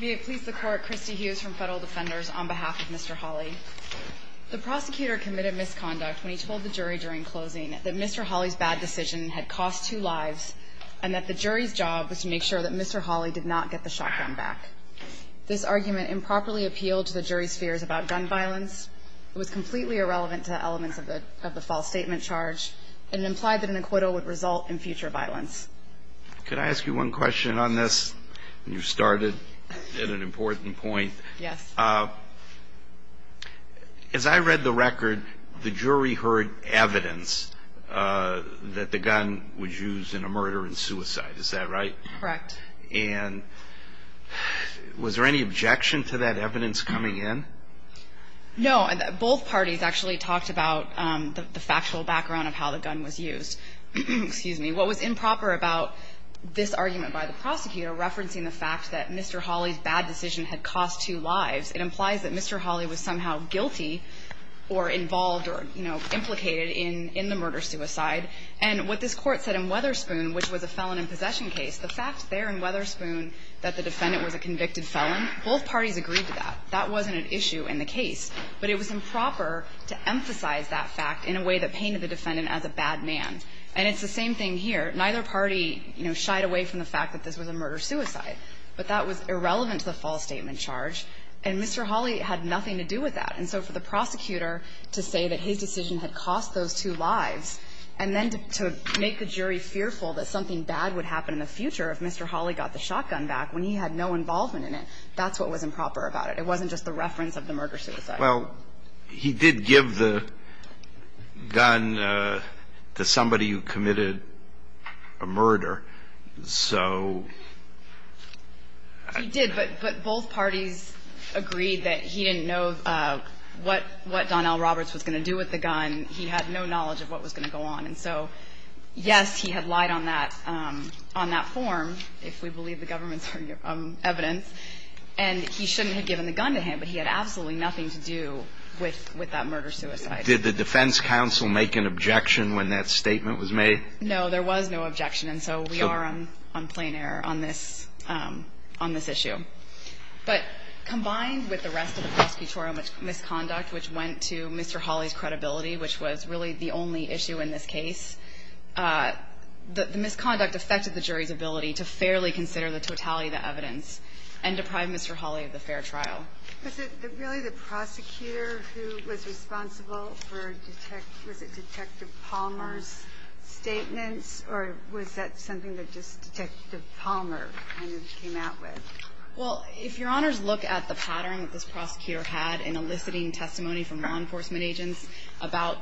May it please the court, Christy Hughes from Federal Defenders on behalf of Mr. Holley. The prosecutor committed misconduct when he told the jury during closing that Mr. Holley's bad decision had cost two lives and that the jury's job was to make sure that Mr. Holley did not get the shotgun back. This argument improperly appealed to the jury's fears about gun violence. It was completely irrelevant to elements of the false statement charge and implied that an acquittal would result in future violence. Could I ask you one question on this? You started at an important point. Yes. As I read the record, the jury heard evidence that the gun was used in a murder and suicide. Is that right? Correct. And was there any objection to that evidence coming in? No. Both parties actually talked about the factual background of how the gun was used. Excuse me. What was improper about this argument by the prosecutor referencing the fact that Mr. Holley's bad decision had cost two lives, it implies that Mr. Holley was somehow guilty or involved or, you know, implicated in the murder-suicide. And what this Court said in Weatherspoon, which was a felon in possession case, the fact there in Weatherspoon that the defendant was a convicted felon, both parties agreed to that. That wasn't an issue in the case. But it was improper to emphasize that fact in a way that painted the defendant as a bad man. And it's the same thing here. Neither party, you know, shied away from the fact that this was a murder-suicide. But that was irrelevant to the false statement charge, and Mr. Holley had nothing to do with that. And so for the prosecutor to say that his decision had cost those two lives and then to make the jury fearful that something bad would happen in the future if Mr. Holley got the shotgun back when he had no involvement in it, that's what was improper about it. It wasn't just the reference of the murder-suicide. Well, he did give the gun to somebody who committed a murder. So... He did, but both parties agreed that he didn't know what Donnell Roberts was going to do with the gun. He had no knowledge of what was going to go on. And so, yes, he had lied on that form, if we believe the government's evidence. And he shouldn't have given the gun to him, but he had absolutely nothing to do with that murder-suicide. Did the defense counsel make an objection when that statement was made? No. There was no objection. And so we are on plain error on this issue. But combined with the rest of the prosecutorial misconduct, which went to Mr. Holley's credibility, which was really the only issue in this case, the misconduct affected the jury's ability to fairly consider the totality of the evidence and deprive Mr. Holley of the fair trial. Was it really the prosecutor who was responsible for Detective Palmer's statements, or was that something that just Detective Palmer kind of came out with? Well, if Your Honors look at the pattern that this prosecutor had in eliciting testimony from law enforcement agents about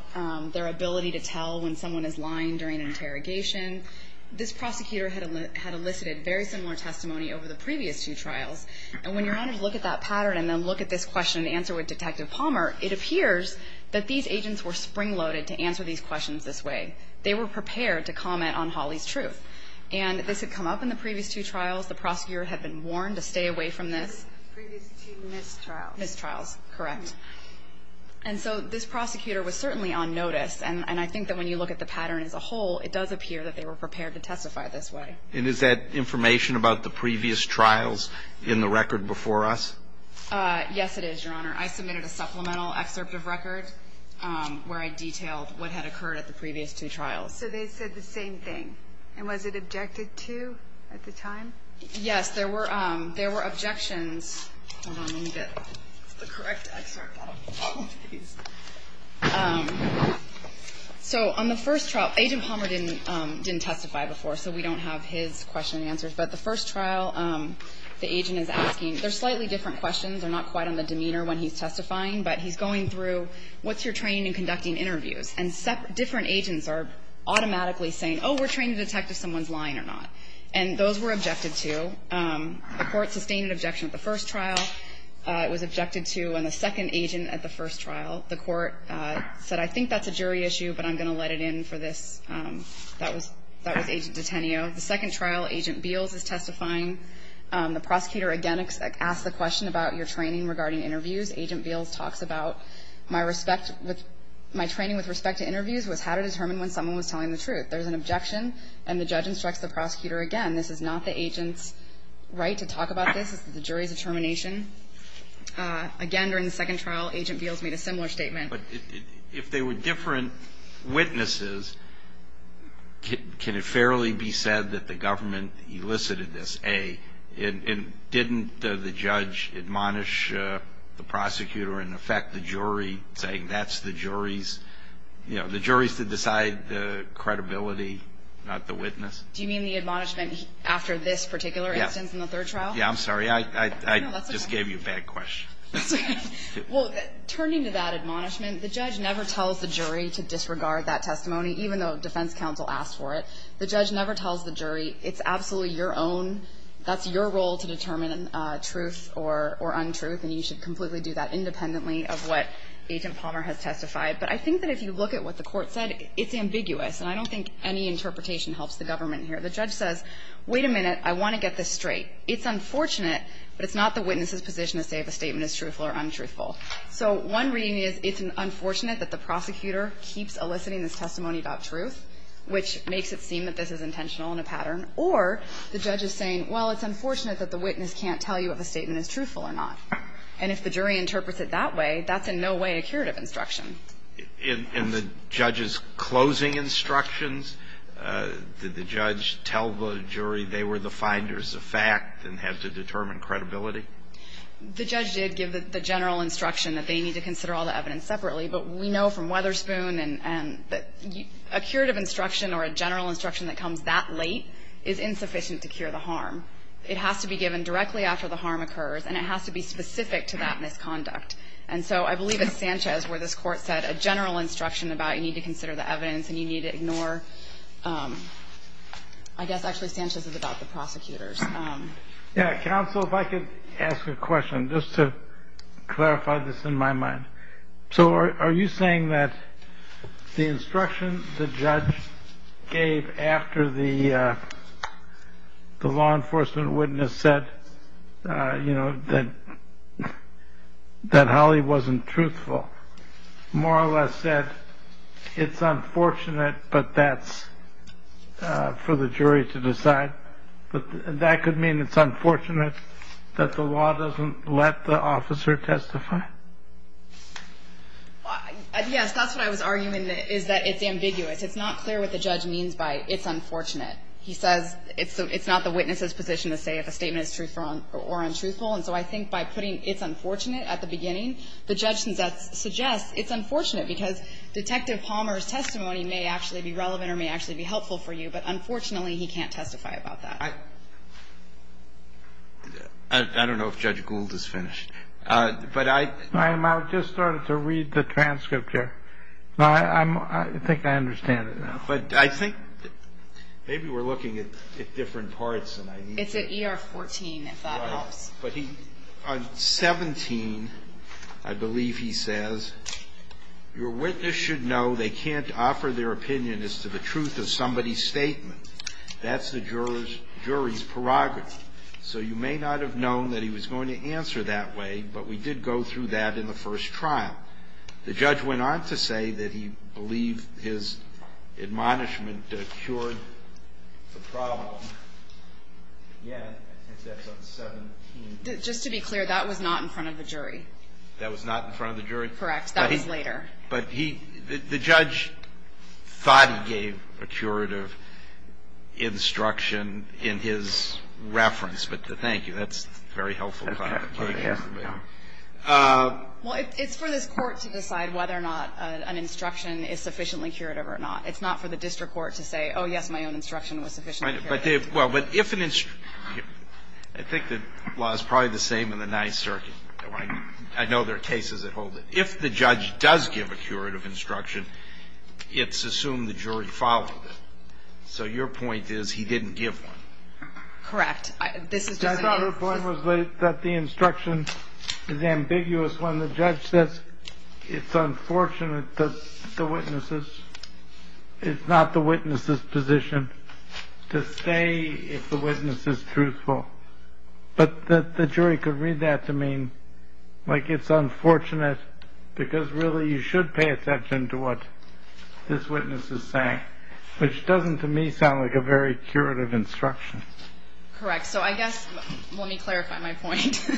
their ability to tell when someone is lying during interrogation, this prosecutor had elicited very similar testimony over the previous two trials. And when Your Honors look at that pattern and then look at this question and answer with Detective Palmer, it appears that these agents were spring-loaded to answer these questions this way. They were prepared to comment on Holley's truth. And this had come up in the previous two trials. The prosecutor had been warned to stay away from this. Previous two missed trials. Missed trials, correct. And so this prosecutor was certainly on notice. And I think that when you look at the pattern as a whole, it does appear that they were prepared to testify this way. And is that information about the previous trials in the record before us? Yes, it is, Your Honor. I submitted a supplemental excerpt of record where I detailed what had occurred at the previous two trials. So they said the same thing. And was it objected to at the time? Yes. There were objections. Hold on. Let me get the correct excerpt out of all of these. So on the first trial, Agent Palmer didn't testify before, so we don't have his question and answers. But the first trial, the agent is asking, they're slightly different questions. They're not quite on the demeanor when he's testifying, but he's going through what's your training in conducting interviews. And different agents are automatically saying, oh, we're trained to detect if someone's lying or not. And those were objected to. The court sustained an objection at the first trial. It was objected to on the second agent at the first trial. The court said, I think that's a jury issue, but I'm going to let it in for this. That was Agent Detenio. The second trial, Agent Beals is testifying. The prosecutor again asks the question about your training regarding interviews. Agent Beals talks about, my respect with my training with respect to interviews was how to determine when someone was telling the truth. There's an objection, and the judge instructs the prosecutor again, this is not the agent's right to talk about this. It's the jury's determination. Again, during the second trial, Agent Beals made a similar statement. But if they were different witnesses, can it fairly be said that the government elicited this, A, and didn't the judge admonish the prosecutor and in effect the jury saying that's the jury's, you know, the jury's to decide the credibility, not the witness? Do you mean the admonishment after this particular instance in the third trial? Yeah, I'm sorry. I just gave you a bad question. That's okay. Well, turning to that admonishment, the judge never tells the jury to disregard that testimony, even though defense counsel asked for it. The judge never tells the jury it's absolutely your own, that's your role to determine truth or untruth, and you should completely do that independently of what Agent Palmer has testified. But I think that if you look at what the court said, it's ambiguous, and I don't think any interpretation helps the government here. The judge says, wait a minute, I want to get this straight. It's unfortunate, but it's not the witness's position to say if a statement is truthful or untruthful. So one reading is it's unfortunate that the prosecutor keeps eliciting this testimony about truth, which makes it seem that this is intentional and a pattern, or the judge is saying, well, it's unfortunate that the witness can't tell you if a statement is truthful or not. And if the jury interprets it that way, that's in no way a curative instruction. In the judge's closing instructions, did the judge tell the jury they were the finders of fact and had to determine credibility? The judge did give the general instruction that they need to consider all the evidence separately, but we know from Weatherspoon and that a curative instruction or a general instruction that comes that late is insufficient to cure the harm. It has to be given directly after the harm occurs, and it has to be specific to that misconduct. And so I believe it's Sanchez where this Court said a general instruction about you need to consider the evidence and you need to ignore – I guess actually Sanchez is about the prosecutors. Yeah. Counsel, if I could ask a question, just to clarify this in my mind. So are you saying that the instruction the judge gave after the law enforcement witness said that Holly wasn't truthful more or less said it's unfortunate but that's for the jury to decide? That could mean it's unfortunate that the law doesn't let the officer testify? Yes, that's what I was arguing, is that it's ambiguous. It's not clear what the judge means by it's unfortunate. He says it's not the witness's position to say if a statement is truthful or untruthful. And so I think by putting it's unfortunate at the beginning, the judge suggests it's unfortunate because Detective Palmer's testimony may actually be relevant or may actually be helpful for you, but unfortunately he can't testify about that. I don't know if Judge Gould is finished, but I – I just started to read the transcript here. I think I understand it now. But I think maybe we're looking at different parts. It's at ER 14, if that helps. On 17, I believe he says, Your witness should know they can't offer their opinion as to the truth of somebody's statement. That's the jury's prerogative. So you may not have known that he was going to answer that way, but we did go through that in the first trial. The judge went on to say that he believed his admonishment cured the problem. Yeah, I think that's on 17. Just to be clear, that was not in front of the jury. That was not in front of the jury? Correct. That was later. But he – the judge thought he gave a curative instruction in his reference, but thank you. That's very helpful. Well, it's for this Court to decide whether or not an instruction is sufficiently curative or not. It's not for the district court to say, oh, yes, my own instruction was sufficiently curative. But if – well, but if an – I think the law is probably the same in the Ninth Circuit. I know there are cases that hold it. If the judge does give a curative instruction, it's assumed the jury followed So your point is he didn't give one. Correct. I thought her point was that the instruction is ambiguous when the judge says it's unfortunate that the witnesses – it's not the witness's position to stay if the witness is truthful. But the jury could read that to mean, like, it's unfortunate because really you should pay attention to what this witness is saying, which doesn't, to me, sound like a very curative instruction. Correct. So I guess let me clarify my point.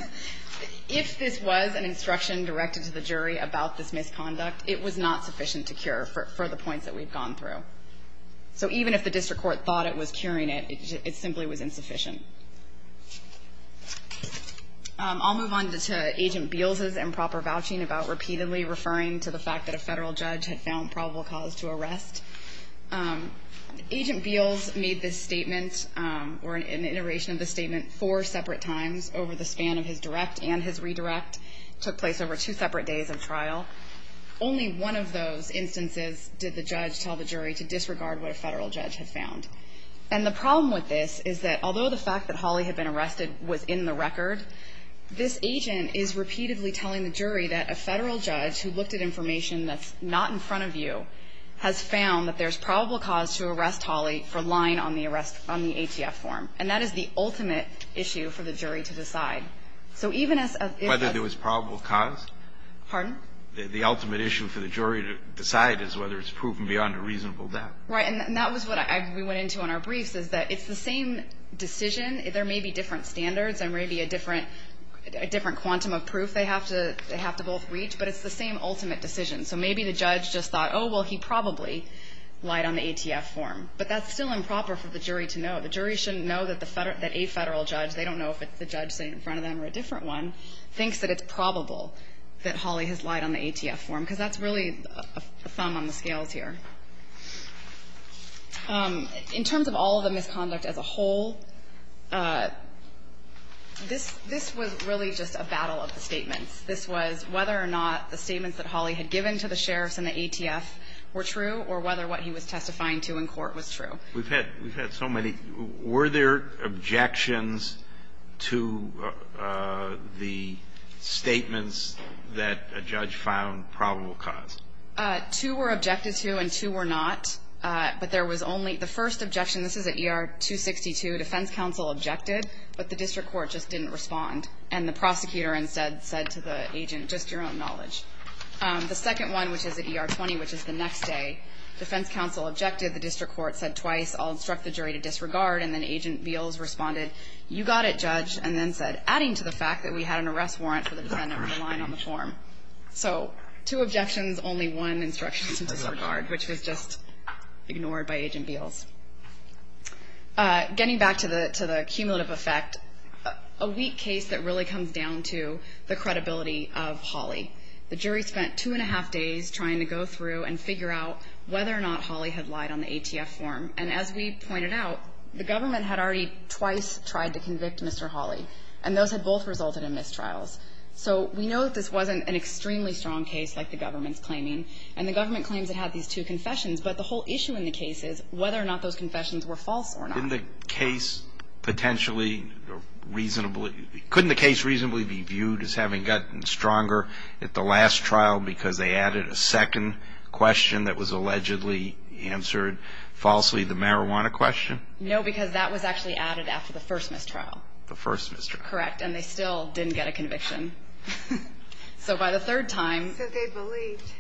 If this was an instruction directed to the jury about this misconduct, it was not sufficient to cure for the points that we've gone through. So even if the district court thought it was curing it, it simply was insufficient. I'll move on to Agent Beals's improper vouching about repeatedly referring to the fact that a Federal judge had found probable cause to arrest. Agent Beals made this statement, or an iteration of the statement, four separate times over the span of his direct and his redirect. It took place over two separate days of trial. Only one of those instances did the judge tell the jury to disregard what a Federal judge had found. And the problem with this is that although the fact that Holly had been arrested was in the record, this agent is repeatedly telling the jury that a Federal judge who looked at information that's not in front of you has found that there's probable cause to arrest Holly for lying on the arrest, on the ATF form. And that is the ultimate issue for the jury to decide. So even as a Whether there was probable cause? Pardon? The ultimate issue for the jury to decide is whether it's proven beyond a reasonable doubt. Right. And that was what we went into on our briefs, is that it's the same decision. There may be different standards. There may be a different quantum of proof they have to both reach. But it's the same ultimate decision. So maybe the judge just thought, oh, well, he probably lied on the ATF form. But that's still improper for the jury to know. The jury shouldn't know that a Federal judge, they don't know if it's the judge sitting in front of them or a different one, thinks that it's probable that Holly has lied on the ATF form. Because that's really a thumb on the scales here. In terms of all of the misconduct as a whole, this was really just a battle of the statements. This was whether or not the statements that Holly had given to the sheriffs and the ATF were true or whether what he was testifying to in court was true. We've had so many. Were there objections to the statements that a judge found probable cause? Two were objected to and two were not. But there was only the first objection. This is at ER 262. Defense counsel objected, but the district court just didn't respond. And the prosecutor instead said to the agent, just your own knowledge. The second one, which is at ER 20, which is the next day, defense counsel objected. The district court said twice, I'll instruct the jury to disregard. And then Agent Beals responded, you got it, judge, and then said, adding to the fact that we had an arrest warrant for the defendant lying on the form. So two objections, only one instruction to disregard, which was just ignored by Agent Beals. Getting back to the cumulative effect, a weak case that really comes down to the credibility of Holly. The jury spent two and a half days trying to go through and figure out whether or not Holly had lied on the ATF form. And as we pointed out, the government had already twice tried to convict Mr. Holly, and those had both resulted in mistrials. So we know that this wasn't an extremely strong case like the government's claiming, and the government claims it had these two confessions. But the whole issue in the case is whether or not those confessions were false or not. Couldn't the case reasonably be viewed as having gotten stronger at the last trial because they added a second question that was allegedly answered falsely, the marijuana question? No, because that was actually added after the first mistrial. The first mistrial. And they still didn't get a conviction. So by the third time. So they believed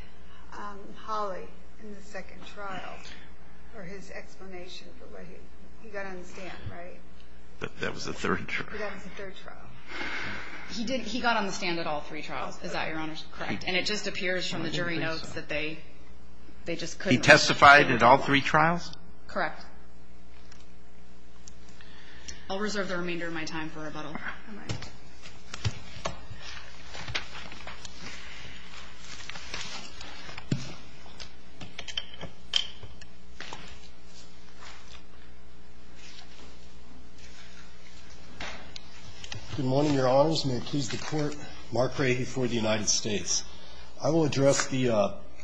Holly in the second trial for his explanation. He got on the stand, right? That was the third trial. That was the third trial. He got on the stand at all three trials, is that your Honor? Correct. And it just appears from the jury notes that they just couldn't. He testified at all three trials? Correct. I'll reserve the remainder of my time for rebuttal. All right. Good morning, Your Honors. May it please the Court. Mark Rahey for the United States. I will address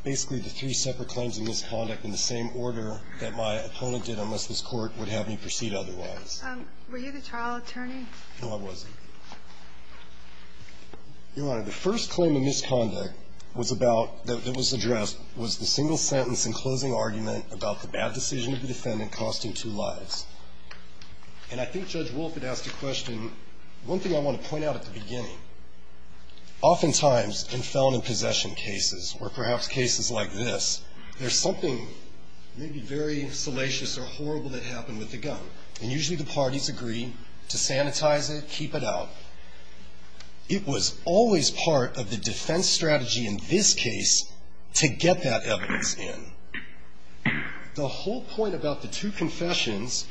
basically the three separate claims of misconduct in the same order that my opponent did, unless this Court would have me proceed otherwise. Were you the trial attorney? No, I wasn't. Your Honor, the first claim of misconduct was about, that was addressed, was the single sentence in closing argument about the bad decision of the defendant costing two lives. And I think Judge Wolf had asked a question. One thing I want to point out at the beginning. Oftentimes, in felon and possession cases, or perhaps cases like this, there's something maybe very salacious or horrible that happened with the gun. And usually the parties agree to sanitize it, keep it out. It was always part of the defense strategy in this case to get that evidence in. The whole point about the two confessions,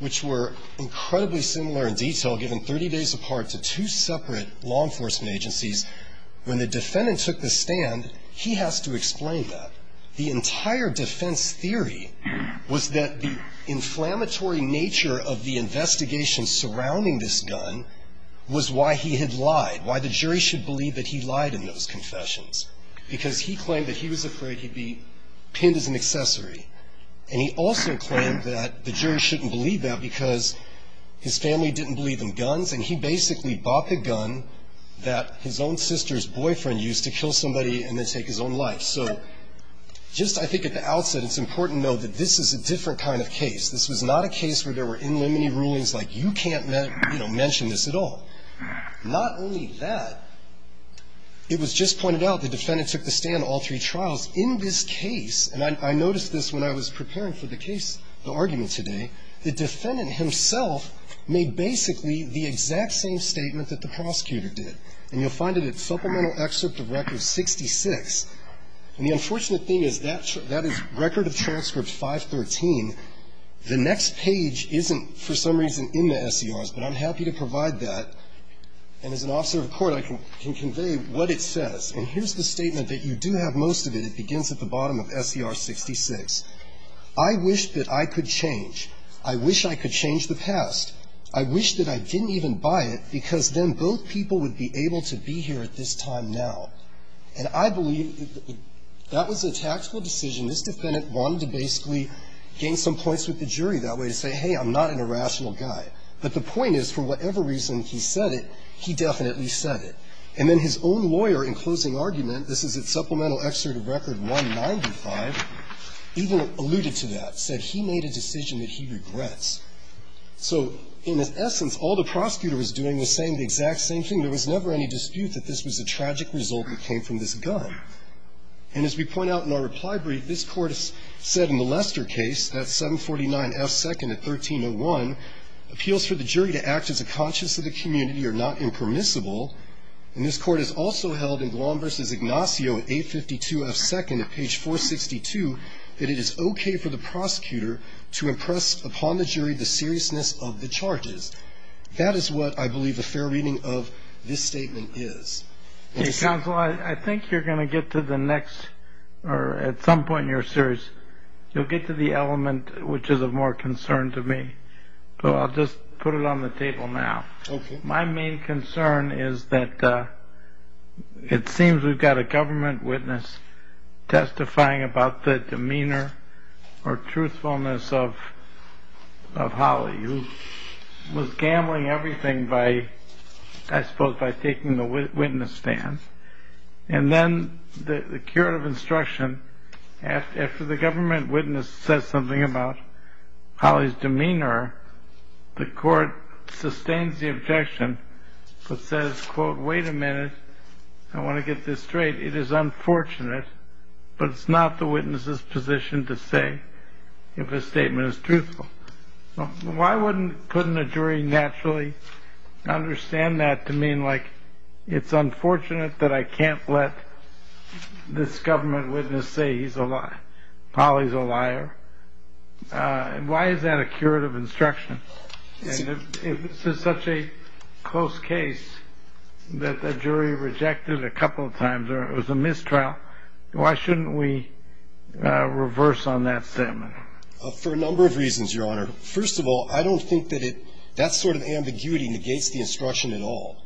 which were incredibly similar in detail, given 30 days apart to two separate law enforcement agencies, when the defendant took the stand, he has to explain that. The entire defense theory was that the inflammatory nature of the investigation surrounding this gun was why he had lied, why the jury should believe that he lied in those confessions, because he claimed that he was afraid he'd be pinned as an accessory. And he also claimed that the jury shouldn't believe that because his family didn't believe in guns, and he basically bought the gun that his own sister's boyfriend used to kill somebody and then take his own life. So just, I think, at the outset, it's important to know that this is a different kind of case. This was not a case where there were inlimited rulings like you can't, you know, mention this at all. Not only that, it was just pointed out the defendant took the stand all three trials. In this case, and I noticed this when I was preparing for the case, the argument today, the defendant himself made basically the exact same statement that the prosecutor did. And you'll find it at Supplemental Excerpt of Record 66. And the unfortunate thing is that is Record of Transcript 513. The next page isn't, for some reason, in the SERs, but I'm happy to provide that. And as an officer of court, I can convey what it says. And here's the statement that you do have most of it. It begins at the bottom of SER 66. I wish that I could change. I wish I could change the past. I wish that I didn't even buy it, because then both people would be able to be here at this time now. And I believe that was a tactical decision. This defendant wanted to basically gain some points with the jury that way, to say, hey, I'm not an irrational guy. But the point is, for whatever reason he said it, he definitely said it. And then his own lawyer, in closing argument, this is at Supplemental Excerpt of Record 195, even alluded to that, said he made a decision that he regrets. So in essence, all the prosecutor was doing was saying the exact same thing. There was never any dispute that this was a tragic result that came from this gun. And as we point out in our reply brief, this Court has said in the Lester case, that 749F2nd of 1301, appeals for the jury to act as a conscious of the community or not impermissible. And this Court has also held in Guam v. Ignacio in 852F2nd of page 462 that it is okay for the prosecutor to impress upon the jury the seriousness of the charges. That is what I believe a fair reading of this statement is. Counsel, I think you're going to get to the next, or at some point you're serious, you'll get to the element which is of more concern to me. So I'll just put it on the table now. My main concern is that it seems we've got a government witness testifying about the demeanor or truthfulness of Holly, who was gambling everything, I suppose, by taking the witness stand. And then the curative instruction, after the government witness says something about Holly's demeanor, the Court sustains the objection but says, quote, wait a minute, I want to get this straight, it is unfortunate, but it's not the witness's position to say if a statement is truthful. Why couldn't a jury naturally understand that to mean, like, it's unfortunate that I can't let this government witness say Holly's a liar? Why is that a curative instruction? And if this is such a close case that the jury rejected a couple of times or it was a mistrial, why shouldn't we reverse on that statement? For a number of reasons, Your Honor. First of all, I don't think that that sort of ambiguity negates the instruction at all,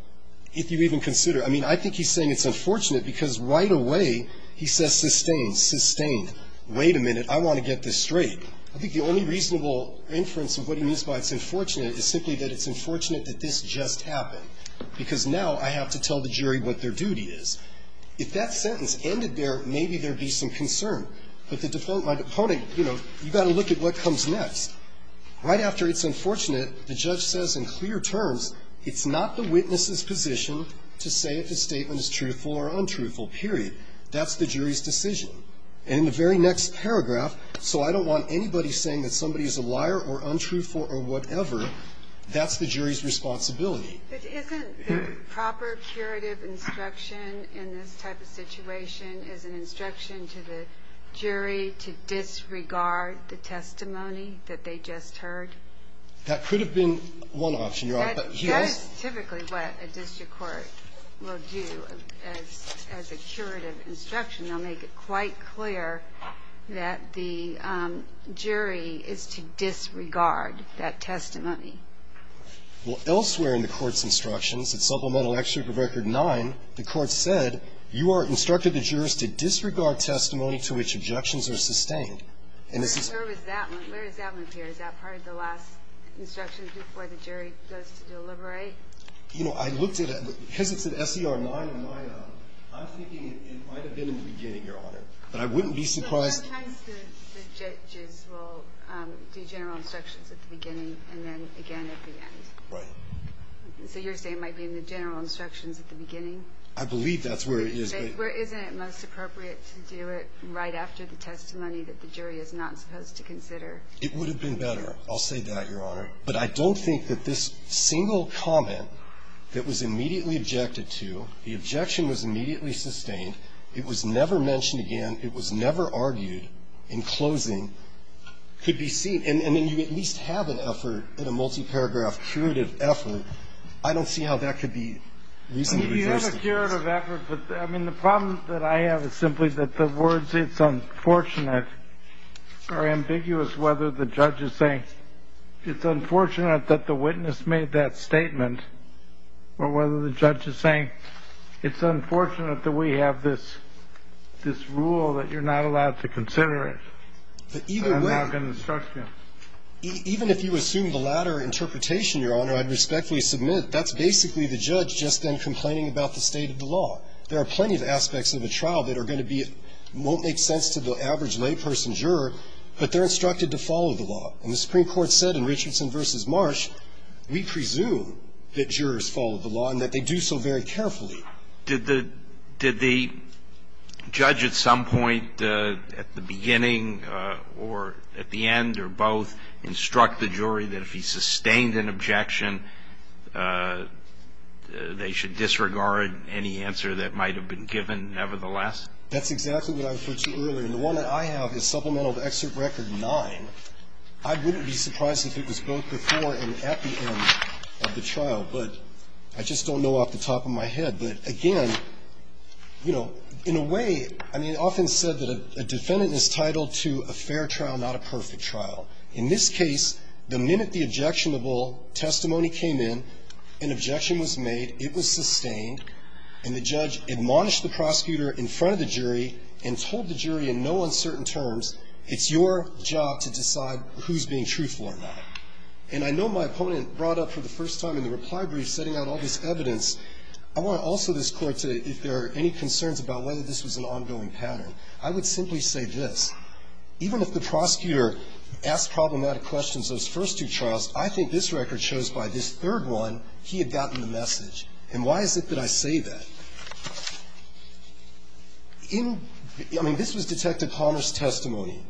if you even consider. I mean, I think he's saying it's unfortunate because right away he says sustain, sustain. Wait a minute, I want to get this straight. I think the only reasonable inference of what he means by it's unfortunate is simply that it's unfortunate that this just happened, because now I have to tell the jury what their duty is. If that sentence ended there, maybe there would be some concern. But my opponent, you know, you've got to look at what comes next. Right after it's unfortunate, the judge says in clear terms it's not the witness's position to say if a statement is truthful or untruthful, period. That's the jury's decision. And in the very next paragraph, so I don't want anybody saying that somebody is a liar or untruthful or whatever, that's the jury's responsibility. But isn't the proper curative instruction in this type of situation is an instruction to the jury to disregard the testimony that they just heard? That could have been one option, Your Honor. That's typically what a district court will do as a curative instruction. They'll make it quite clear that the jury is to disregard that testimony. Well, elsewhere in the Court's instructions, in Supplemental Extract of Record 9, the Court said, You are instructed the jurors to disregard testimony to which objections are sustained. And this is the case. Where is that one? Where does that one appear? Is that part of the last instruction before the jury goes to deliberate? You know, I looked at it. Because it's in SER 9 and 9A, I'm thinking it might have been in the beginning, Your Honor. But I wouldn't be surprised. Sometimes the judges will do general instructions at the beginning and then again at the end. Right. So you're saying it might be in the general instructions at the beginning? I believe that's where it is. But isn't it most appropriate to do it right after the testimony that the jury is not supposed to consider? It would have been better. I'll say that, Your Honor. But I don't think that this single comment that was immediately objected to, the objection was immediately sustained, it was never mentioned again, it was never argued in closing, could be seen. And then you at least have an effort in a multi-paragraph curative effort. I don't see how that could be reasonably justified. You have a curative effort, but I mean, the problem that I have is simply that the It's unfortunate or ambiguous whether the judge is saying, it's unfortunate that the witness made that statement, or whether the judge is saying, it's unfortunate that we have this rule that you're not allowed to consider it. I'm not going to instruct you. Even if you assume the latter interpretation, Your Honor, I'd respectfully submit that's basically the judge just then complaining about the state of the law. There are plenty of aspects of a trial that are going to be, won't make sense to the average layperson juror, but they're instructed to follow the law. And the Supreme Court said in Richardson v. Marsh, we presume that jurors follow the law and that they do so very carefully. Did the judge at some point at the beginning or at the end or both instruct the jury that if he sustained an objection, they should disregard any answer that might have been given nevertheless? That's exactly what I referred to earlier. And the one that I have is Supplemental to Excerpt Record 9. I wouldn't be surprised if it was both before and at the end of the trial. But I just don't know off the top of my head. But again, you know, in a way, I mean, it's often said that a defendant is titled to a fair trial, not a perfect trial. In this case, the minute the objectionable testimony came in, an objection was made, it was sustained, and the judge admonished the prosecutor in front of the jury and told the jury in no uncertain terms, it's your job to decide who's being truthful or not. And I know my opponent brought up for the first time in the reply brief setting out all this evidence. I want to also, this Court, if there are any concerns about whether this was an ongoing pattern, I would simply say this. Even if the prosecutor asked problematic questions those first two trials, I think this record shows by this third one he had gotten the message. And why is it that I say that? In, I mean, this was Detective Conner's testimony.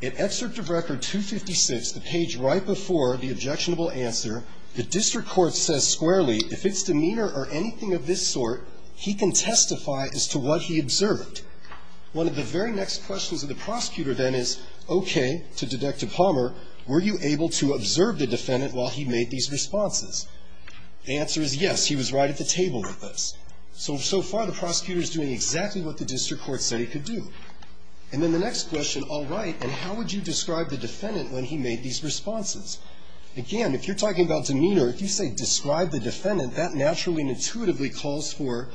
In Excerpt of Record 256, the page right before the objectionable answer, the district court says squarely, if it's demeanor or anything of this sort, he can testify as to what he observed. One of the very next questions of the prosecutor then is, okay, to Detective Palmer, were you able to observe the defendant while he made these responses? The answer is yes, he was right at the table with us. So, so far the prosecutor's doing exactly what the district court said he could do. And then the next question, all right, and how would you describe the defendant when he made these responses? Again, if you're talking about demeanor, if you say describe the defendant, that naturally and intuitively calls for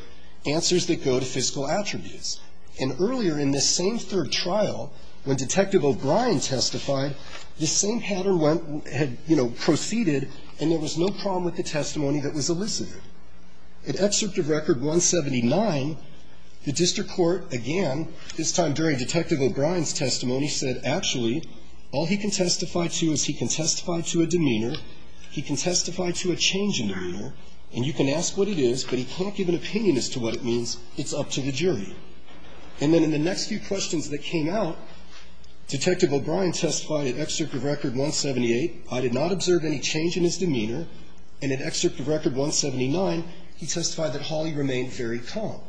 answers that go to fiscal attributes. And earlier in this same third trial, when Detective O'Brien testified, the same pattern went, had, you know, proceeded, and there was no problem with the testimony that was elicited. In Excerpt of Record 179, the district court again, this time during Detective O'Brien's testimony, said actually all he can testify to is he can testify to a demeanor, he can testify to a change in demeanor, and you can ask what it is, but he can't give an opinion as to what it means, it's up to the jury. And then in the next few questions that came out, Detective O'Brien testified at Excerpt of Record 178, I did not observe any change in his demeanor, and at Excerpt of Record 179, he testified that Hawley remained very calm.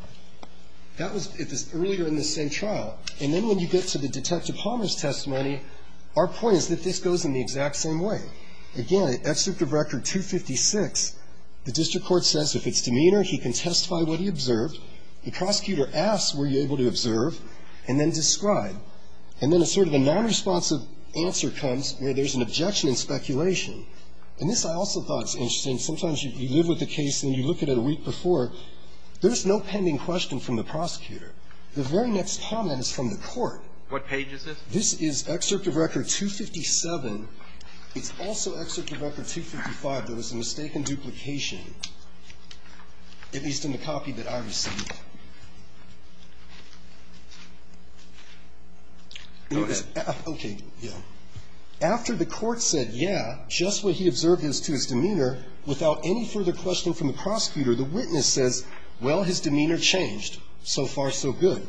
That was earlier in this same trial. And then when you get to the Detective Palmer's testimony, our point is that this goes in the exact same way. Again, at Excerpt of Record 256, the district court says if it's demeanor, he can testify what he observed. The prosecutor asks, were you able to observe, and then describe. And then a sort of a nonresponsive answer comes where there's an objection and speculation. And this I also thought is interesting. Sometimes you live with a case and you look at it a week before. There's no pending question from the prosecutor. The very next comment is from the court. This is Excerpt of Record 257. It's also Excerpt of Record 255. There was a mistaken duplication, at least in the copy that I received. Okay. Yeah. After the court said, yeah, just what he observed is to his demeanor, without any further question from the prosecutor, the witness says, well, his demeanor changed. So far, so good.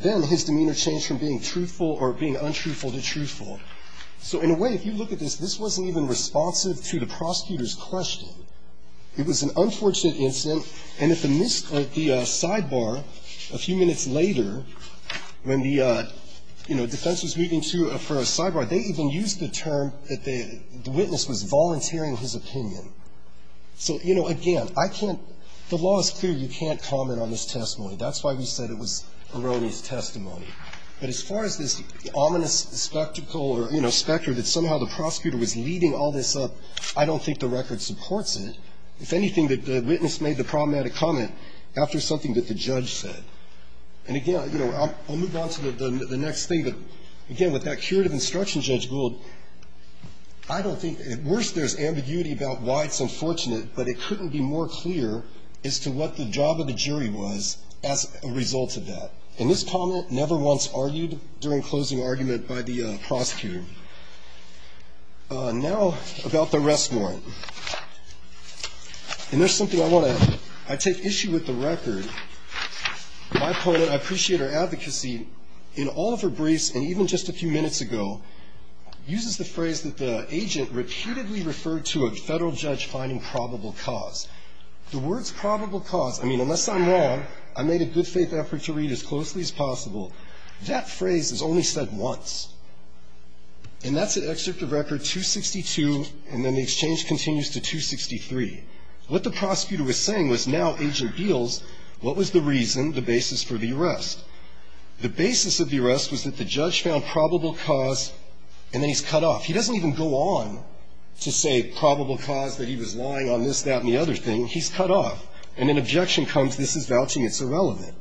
Then his demeanor changed from being truthful or being untruthful to truthful. So in a way, if you look at this, this wasn't even responsive to the prosecutor's question. It was an unfortunate incident. And at the sidebar a few minutes later, when the defense was moving to a sidebar, they even used the term that the witness was volunteering his opinion. So, you know, again, I can't the law is clear, you can't comment on this testimony. That's why we said it was erroneous testimony. But as far as this ominous spectacle or, you know, specter that somehow the prosecutor was leading all this up, I don't think the record supports it. If anything, the witness made the problematic comment after something that the judge said. And, again, you know, I'll move on to the next thing. Again, with that curative instruction, Judge Gould, I don't think at worst there's ambiguity about why it's unfortunate, but it couldn't be more clear as to what the job of the jury was as a result of that. And this comment never once argued during closing argument by the prosecutor. Now about the arrest warrant. And there's something I want to add. I take issue with the record. My opponent, I appreciate her advocacy, in all of her briefs and even just a few minutes ago, uses the phrase that the agent repeatedly referred to a federal judge finding probable cause. The words probable cause, I mean, unless I'm wrong, I made a good faith effort to read as closely as possible. That phrase is only said once. And that's at Excerpt of Record 262, and then the exchange continues to 263. What the prosecutor was saying was now Agent Beals, what was the reason, the basis for the arrest? The basis of the arrest was that the judge found probable cause, and then he's cut off. He doesn't even go on to say probable cause, that he was lying on this, that, and the other thing. He's cut off. And then objection comes, this is vouching, it's irrelevant.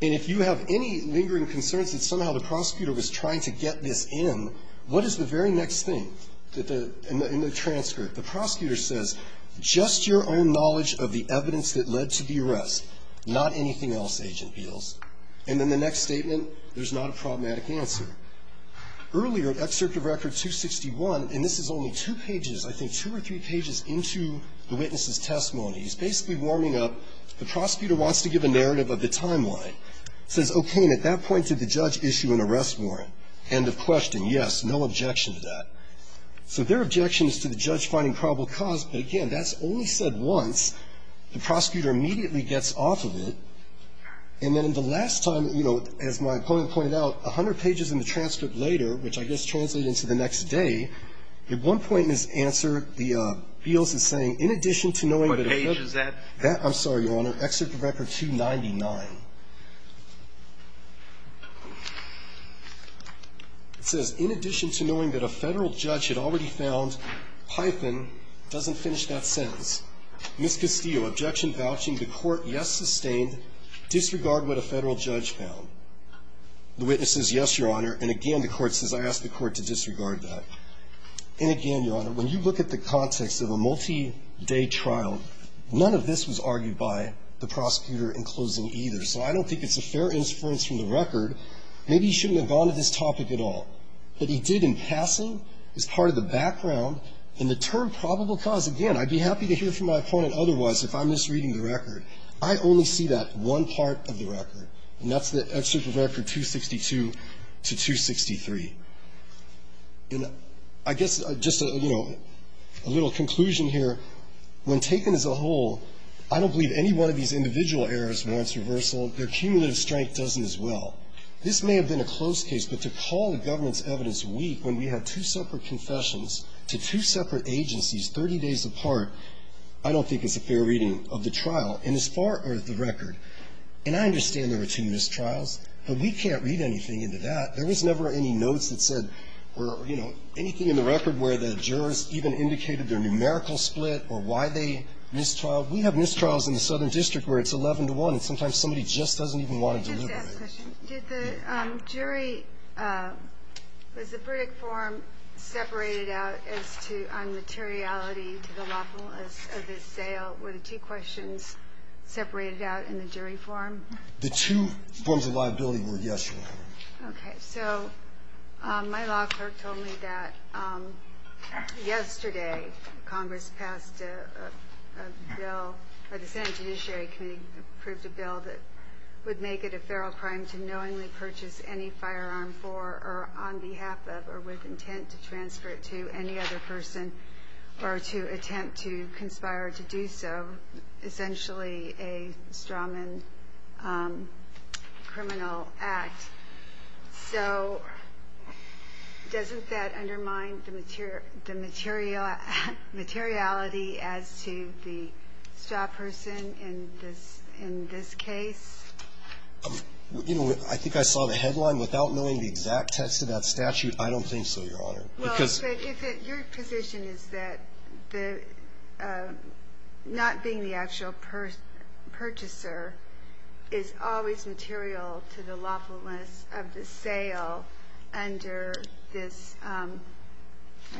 And if you have any lingering concerns that somehow the prosecutor was trying to get this in, what is the very next thing in the transcript? The prosecutor says, just your own knowledge of the evidence that led to the arrest, not anything else, Agent Beals. And then the next statement, there's not a problematic answer. Earlier, Excerpt of Record 261, and this is only two pages, I think two or three pages into the witness's testimony, he's basically warming up. The prosecutor wants to give a narrative of the timeline. Says, okay, and at that point, did the judge issue an arrest warrant? End of question. Yes, no objection to that. So there are objections to the judge finding probable cause, but again, that's only said once. The prosecutor immediately gets off of it. And then the last time, you know, as my opponent pointed out, a hundred pages in the transcript later, which I guess translated into the next day, at one point in his answer, Beals is saying, in addition to knowing that if the ---- What page is that? That, I'm sorry, Your Honor, Excerpt of Record 299. It says, in addition to knowing that a Federal judge had already found Python, doesn't finish that sentence. Ms. Castillo, objection vouching, the Court, yes, sustained, disregard what a Federal judge found. The witness says, yes, Your Honor, and again, the Court says, I ask the Court to disregard that. And again, Your Honor, when you look at the context of a multi-day trial, none of this was argued by the prosecutor in closing either. So I don't think it's a fair inference from the record. Maybe he shouldn't have gone to this topic at all. But he did in passing as part of the background. And the term probable cause, again, I'd be happy to hear from my opponent otherwise if I'm misreading the record. I only see that one part of the record, and that's the Excerpt of Record 262 to 263. And I guess just a, you know, a little conclusion here. When taken as a whole, I don't believe any one of these individual errors warrants reversal. Their cumulative strength doesn't as well. This may have been a close case, but to call the government's evidence weak when we had two separate confessions to two separate agencies 30 days apart, I don't think it's a fair reading of the trial. And as far as the record, and I understand there were two missed trials, but we can't read anything into that. There was never any notes that said or, you know, anything in the record where the jurors even indicated their numerical split or why they missed trial. We have missed trials in the Southern District where it's 11 to 1, and sometimes somebody just doesn't even want to deliver. Did the jury, was the verdict form separated out as to on materiality to the lawfulness of the sale? Were the two questions separated out in the jury form? The two forms of liability were, yes, Your Honor. Okay. So my law clerk told me that yesterday Congress passed a bill, or the Senate Judiciary Committee approved a bill that would make it a feral crime to knowingly purchase any firearm for or on behalf of or with intent to transfer it to any other person or to So doesn't that undermine the materiality as to the stop person in this case? You know, I think I saw the headline. Without knowing the exact text of that statute, I don't think so, Your Honor. Well, but your position is that not being the actual purchaser is always material to the lawfulness of the sale under this, I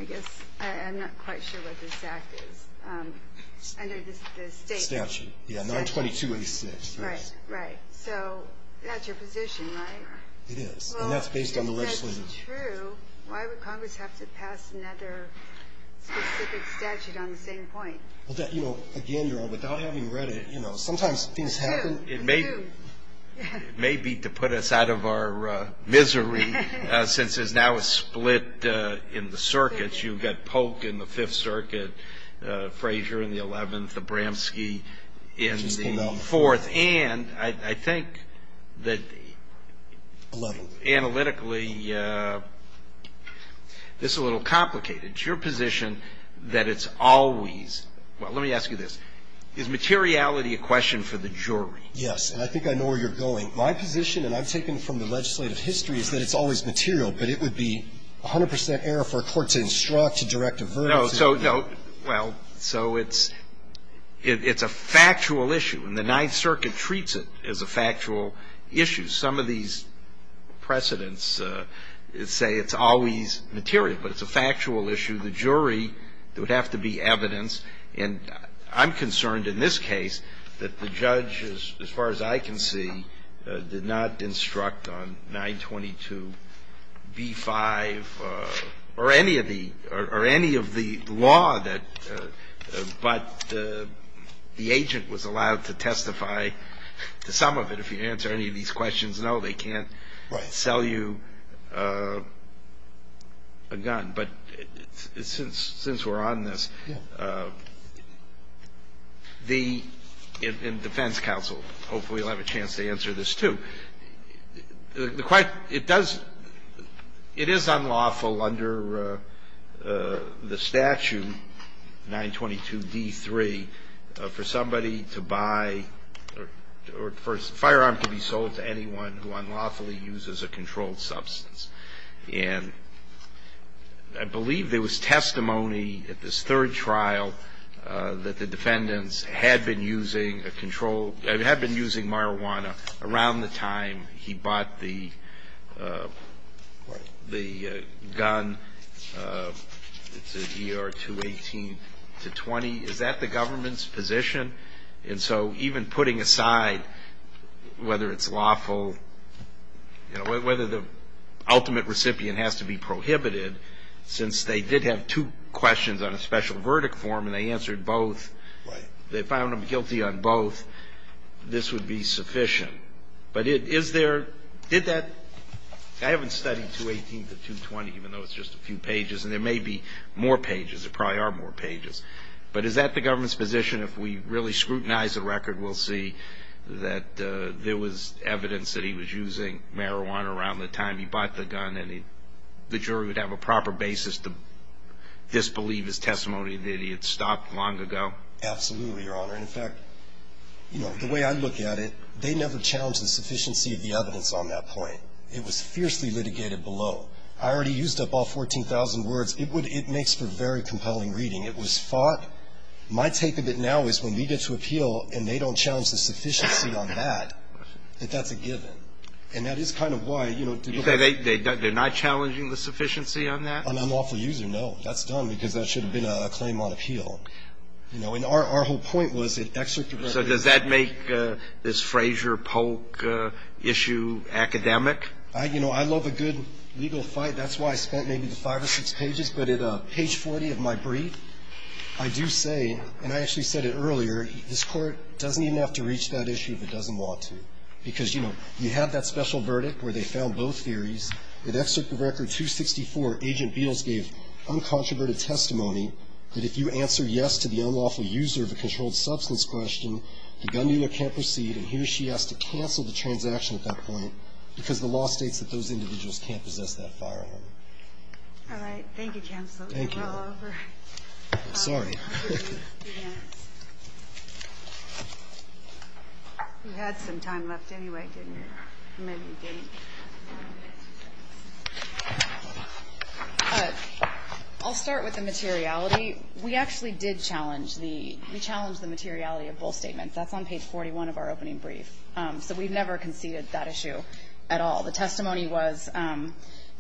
guess, I'm not quite sure what this act is, under the state statute. Yeah, 92286. Right, right. So that's your position, right? It is, and that's based on the legislative. Well, if that's true, why would Congress have to pass another specific statute on the same point? Well, you know, again, Your Honor, without having read it, you know, sometimes things It may be to put us out of our misery, since there's now a split in the circuits. You've got Polk in the Fifth Circuit, Frazier in the Eleventh, Abramski in the Fourth. And I think that analytically, this is a little complicated. It's your position that it's always – well, let me ask you this. Is materiality a question for the jury? Yes. And I think I know where you're going. My position, and I've taken it from the legislative history, is that it's always material, but it would be 100 percent error for a court to instruct, to direct a verdict to the jury. No. Well, so it's a factual issue, and the Ninth Circuit treats it as a factual issue. Some of these precedents say it's always material, but it's a factual issue. The jury, there would have to be evidence. And I'm concerned in this case that the judge, as far as I can see, did not instruct on 922b-5 or any of the law that – but the agent was allowed to testify to some of it. If you answer any of these questions, no, they can't sell you a gun. But since we're on this, the – and defense counsel, hopefully, will have a chance to answer this, too. The – it does – it is unlawful under the statute, 922d-3, for somebody to buy or for a firearm to be sold to anyone who unlawfully uses a controlled substance. And I believe there was testimony at this third trial that the defendants had been using a controlled – had been using marijuana around the time he bought the gun. It's an ER-218-20. Is that the government's position? And so even putting aside whether it's lawful, you know, whether the ultimate recipient has to be prohibited, since they did have two questions on a special verdict form and they answered both, they found them guilty on both, this would be sufficient. But is there – did that – I haven't studied 218-220, even though it's just a few pages, and there may be more pages. There probably are more pages. But is that the government's position? If we really scrutinize the record, we'll see that there was evidence that he was using marijuana around the time he bought the gun and the jury would have a proper basis to disbelieve his testimony that he had stopped long ago. Absolutely, Your Honor. In fact, you know, the way I look at it, they never challenged the sufficiency of the evidence on that point. It was fiercely litigated below. I already used up all 14,000 words. It would – it makes for very compelling reading. It was fought. My take of it now is when we get to appeal and they don't challenge the sufficiency on that, that that's a given. And that is kind of why, you know – You're saying they're not challenging the sufficiency on that? On unlawful user, no. That's done because that should have been a claim on appeal. You know, and our whole point was it – So does that make this Frazier-Polk issue academic? You know, I love a good legal fight. That's why I spent maybe the five or six pages, but at page 40 of my brief, I do say – and I actually said it earlier – this Court doesn't even have to reach that issue if it doesn't want to. Because, you know, you have that special verdict where they found both theories. In Excerpt of Record 264, Agent Beals gave uncontroverted testimony that if you answer yes to the unlawful user of a controlled substance question, the gun dealer can't proceed, and he or she has to cancel the transaction at that point because the law states that those individuals can't possess that firearm. All right. Thank you, Counselor. Thank you. We're all over. Sorry. You had some time left anyway, didn't you? Maybe you didn't. I'll start with the materiality. We actually did challenge the – we challenged the materiality of both statements. That's on page 41 of our opening brief. So we've never conceded that issue at all. The testimony was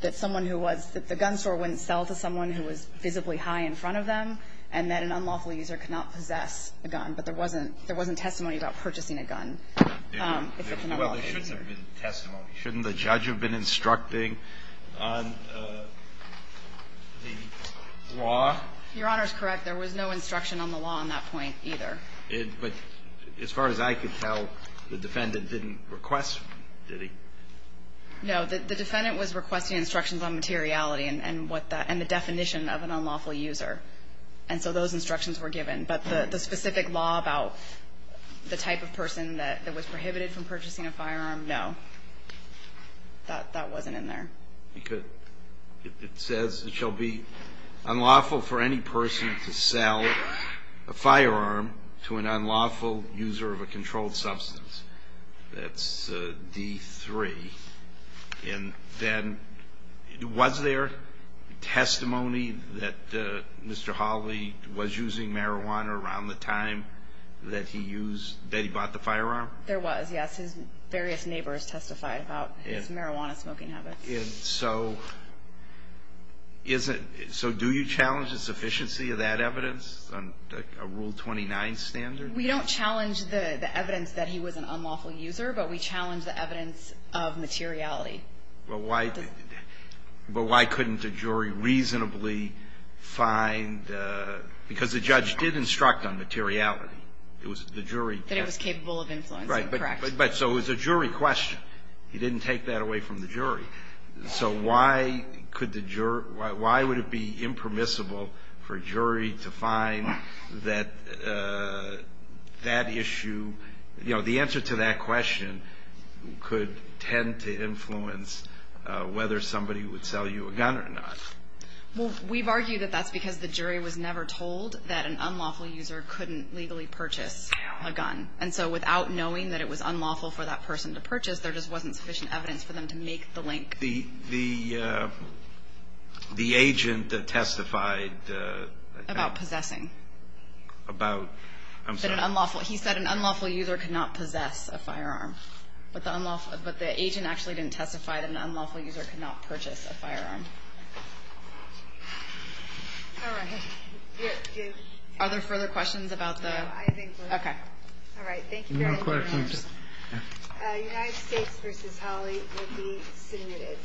that someone who was – that the gun store wouldn't sell to someone who was visibly high in front of them, and that an unlawful user could not possess a gun. But there wasn't – there wasn't testimony about purchasing a gun if it's an unlawful user. Well, there should have been testimony. Shouldn't the judge have been instructing on the law? Your Honor is correct. There was no instruction on the law on that point either. But as far as I could tell, the defendant didn't request – did he? No. The defendant was requesting instructions on materiality and what that – and the definition of an unlawful user. And so those instructions were given. But the specific law about the type of person that was prohibited from purchasing a firearm, no. That wasn't in there. Because it says it shall be unlawful for any person to sell a firearm to an unlawful user of a controlled substance. That's D3. And then was there testimony that Mr. Hawley was using marijuana around the time that he used – that he bought the firearm? There was, yes. His various neighbors testified about his marijuana smoking habits. And so is it – so do you challenge the sufficiency of that evidence on a Rule 29 standard? We don't challenge the evidence that he was an unlawful user, but we challenge the evidence of materiality. But why couldn't a jury reasonably find – because the judge did instruct on materiality. It was the jury – That it was capable of influencing, correct. Right. But so it was a jury question. He didn't take that away from the jury. So why could the – why would it be impermissible for a jury to find that that issue – you know, the answer to that question could tend to influence whether somebody would sell you a gun or not. Well, we've argued that that's because the jury was never told that an unlawful user couldn't legally purchase a gun. And so without knowing that it was unlawful for that person to purchase, there just wasn't sufficient evidence for them to make the link. The agent that testified – About possessing. About – I'm sorry. He said an unlawful user could not possess a firearm. But the agent actually didn't testify that an unlawful user could not purchase a firearm. All right. Are there further questions about the – No, I think we're done. Okay. All right. Thank you very much. No questions. United States v. Holley will be submitted.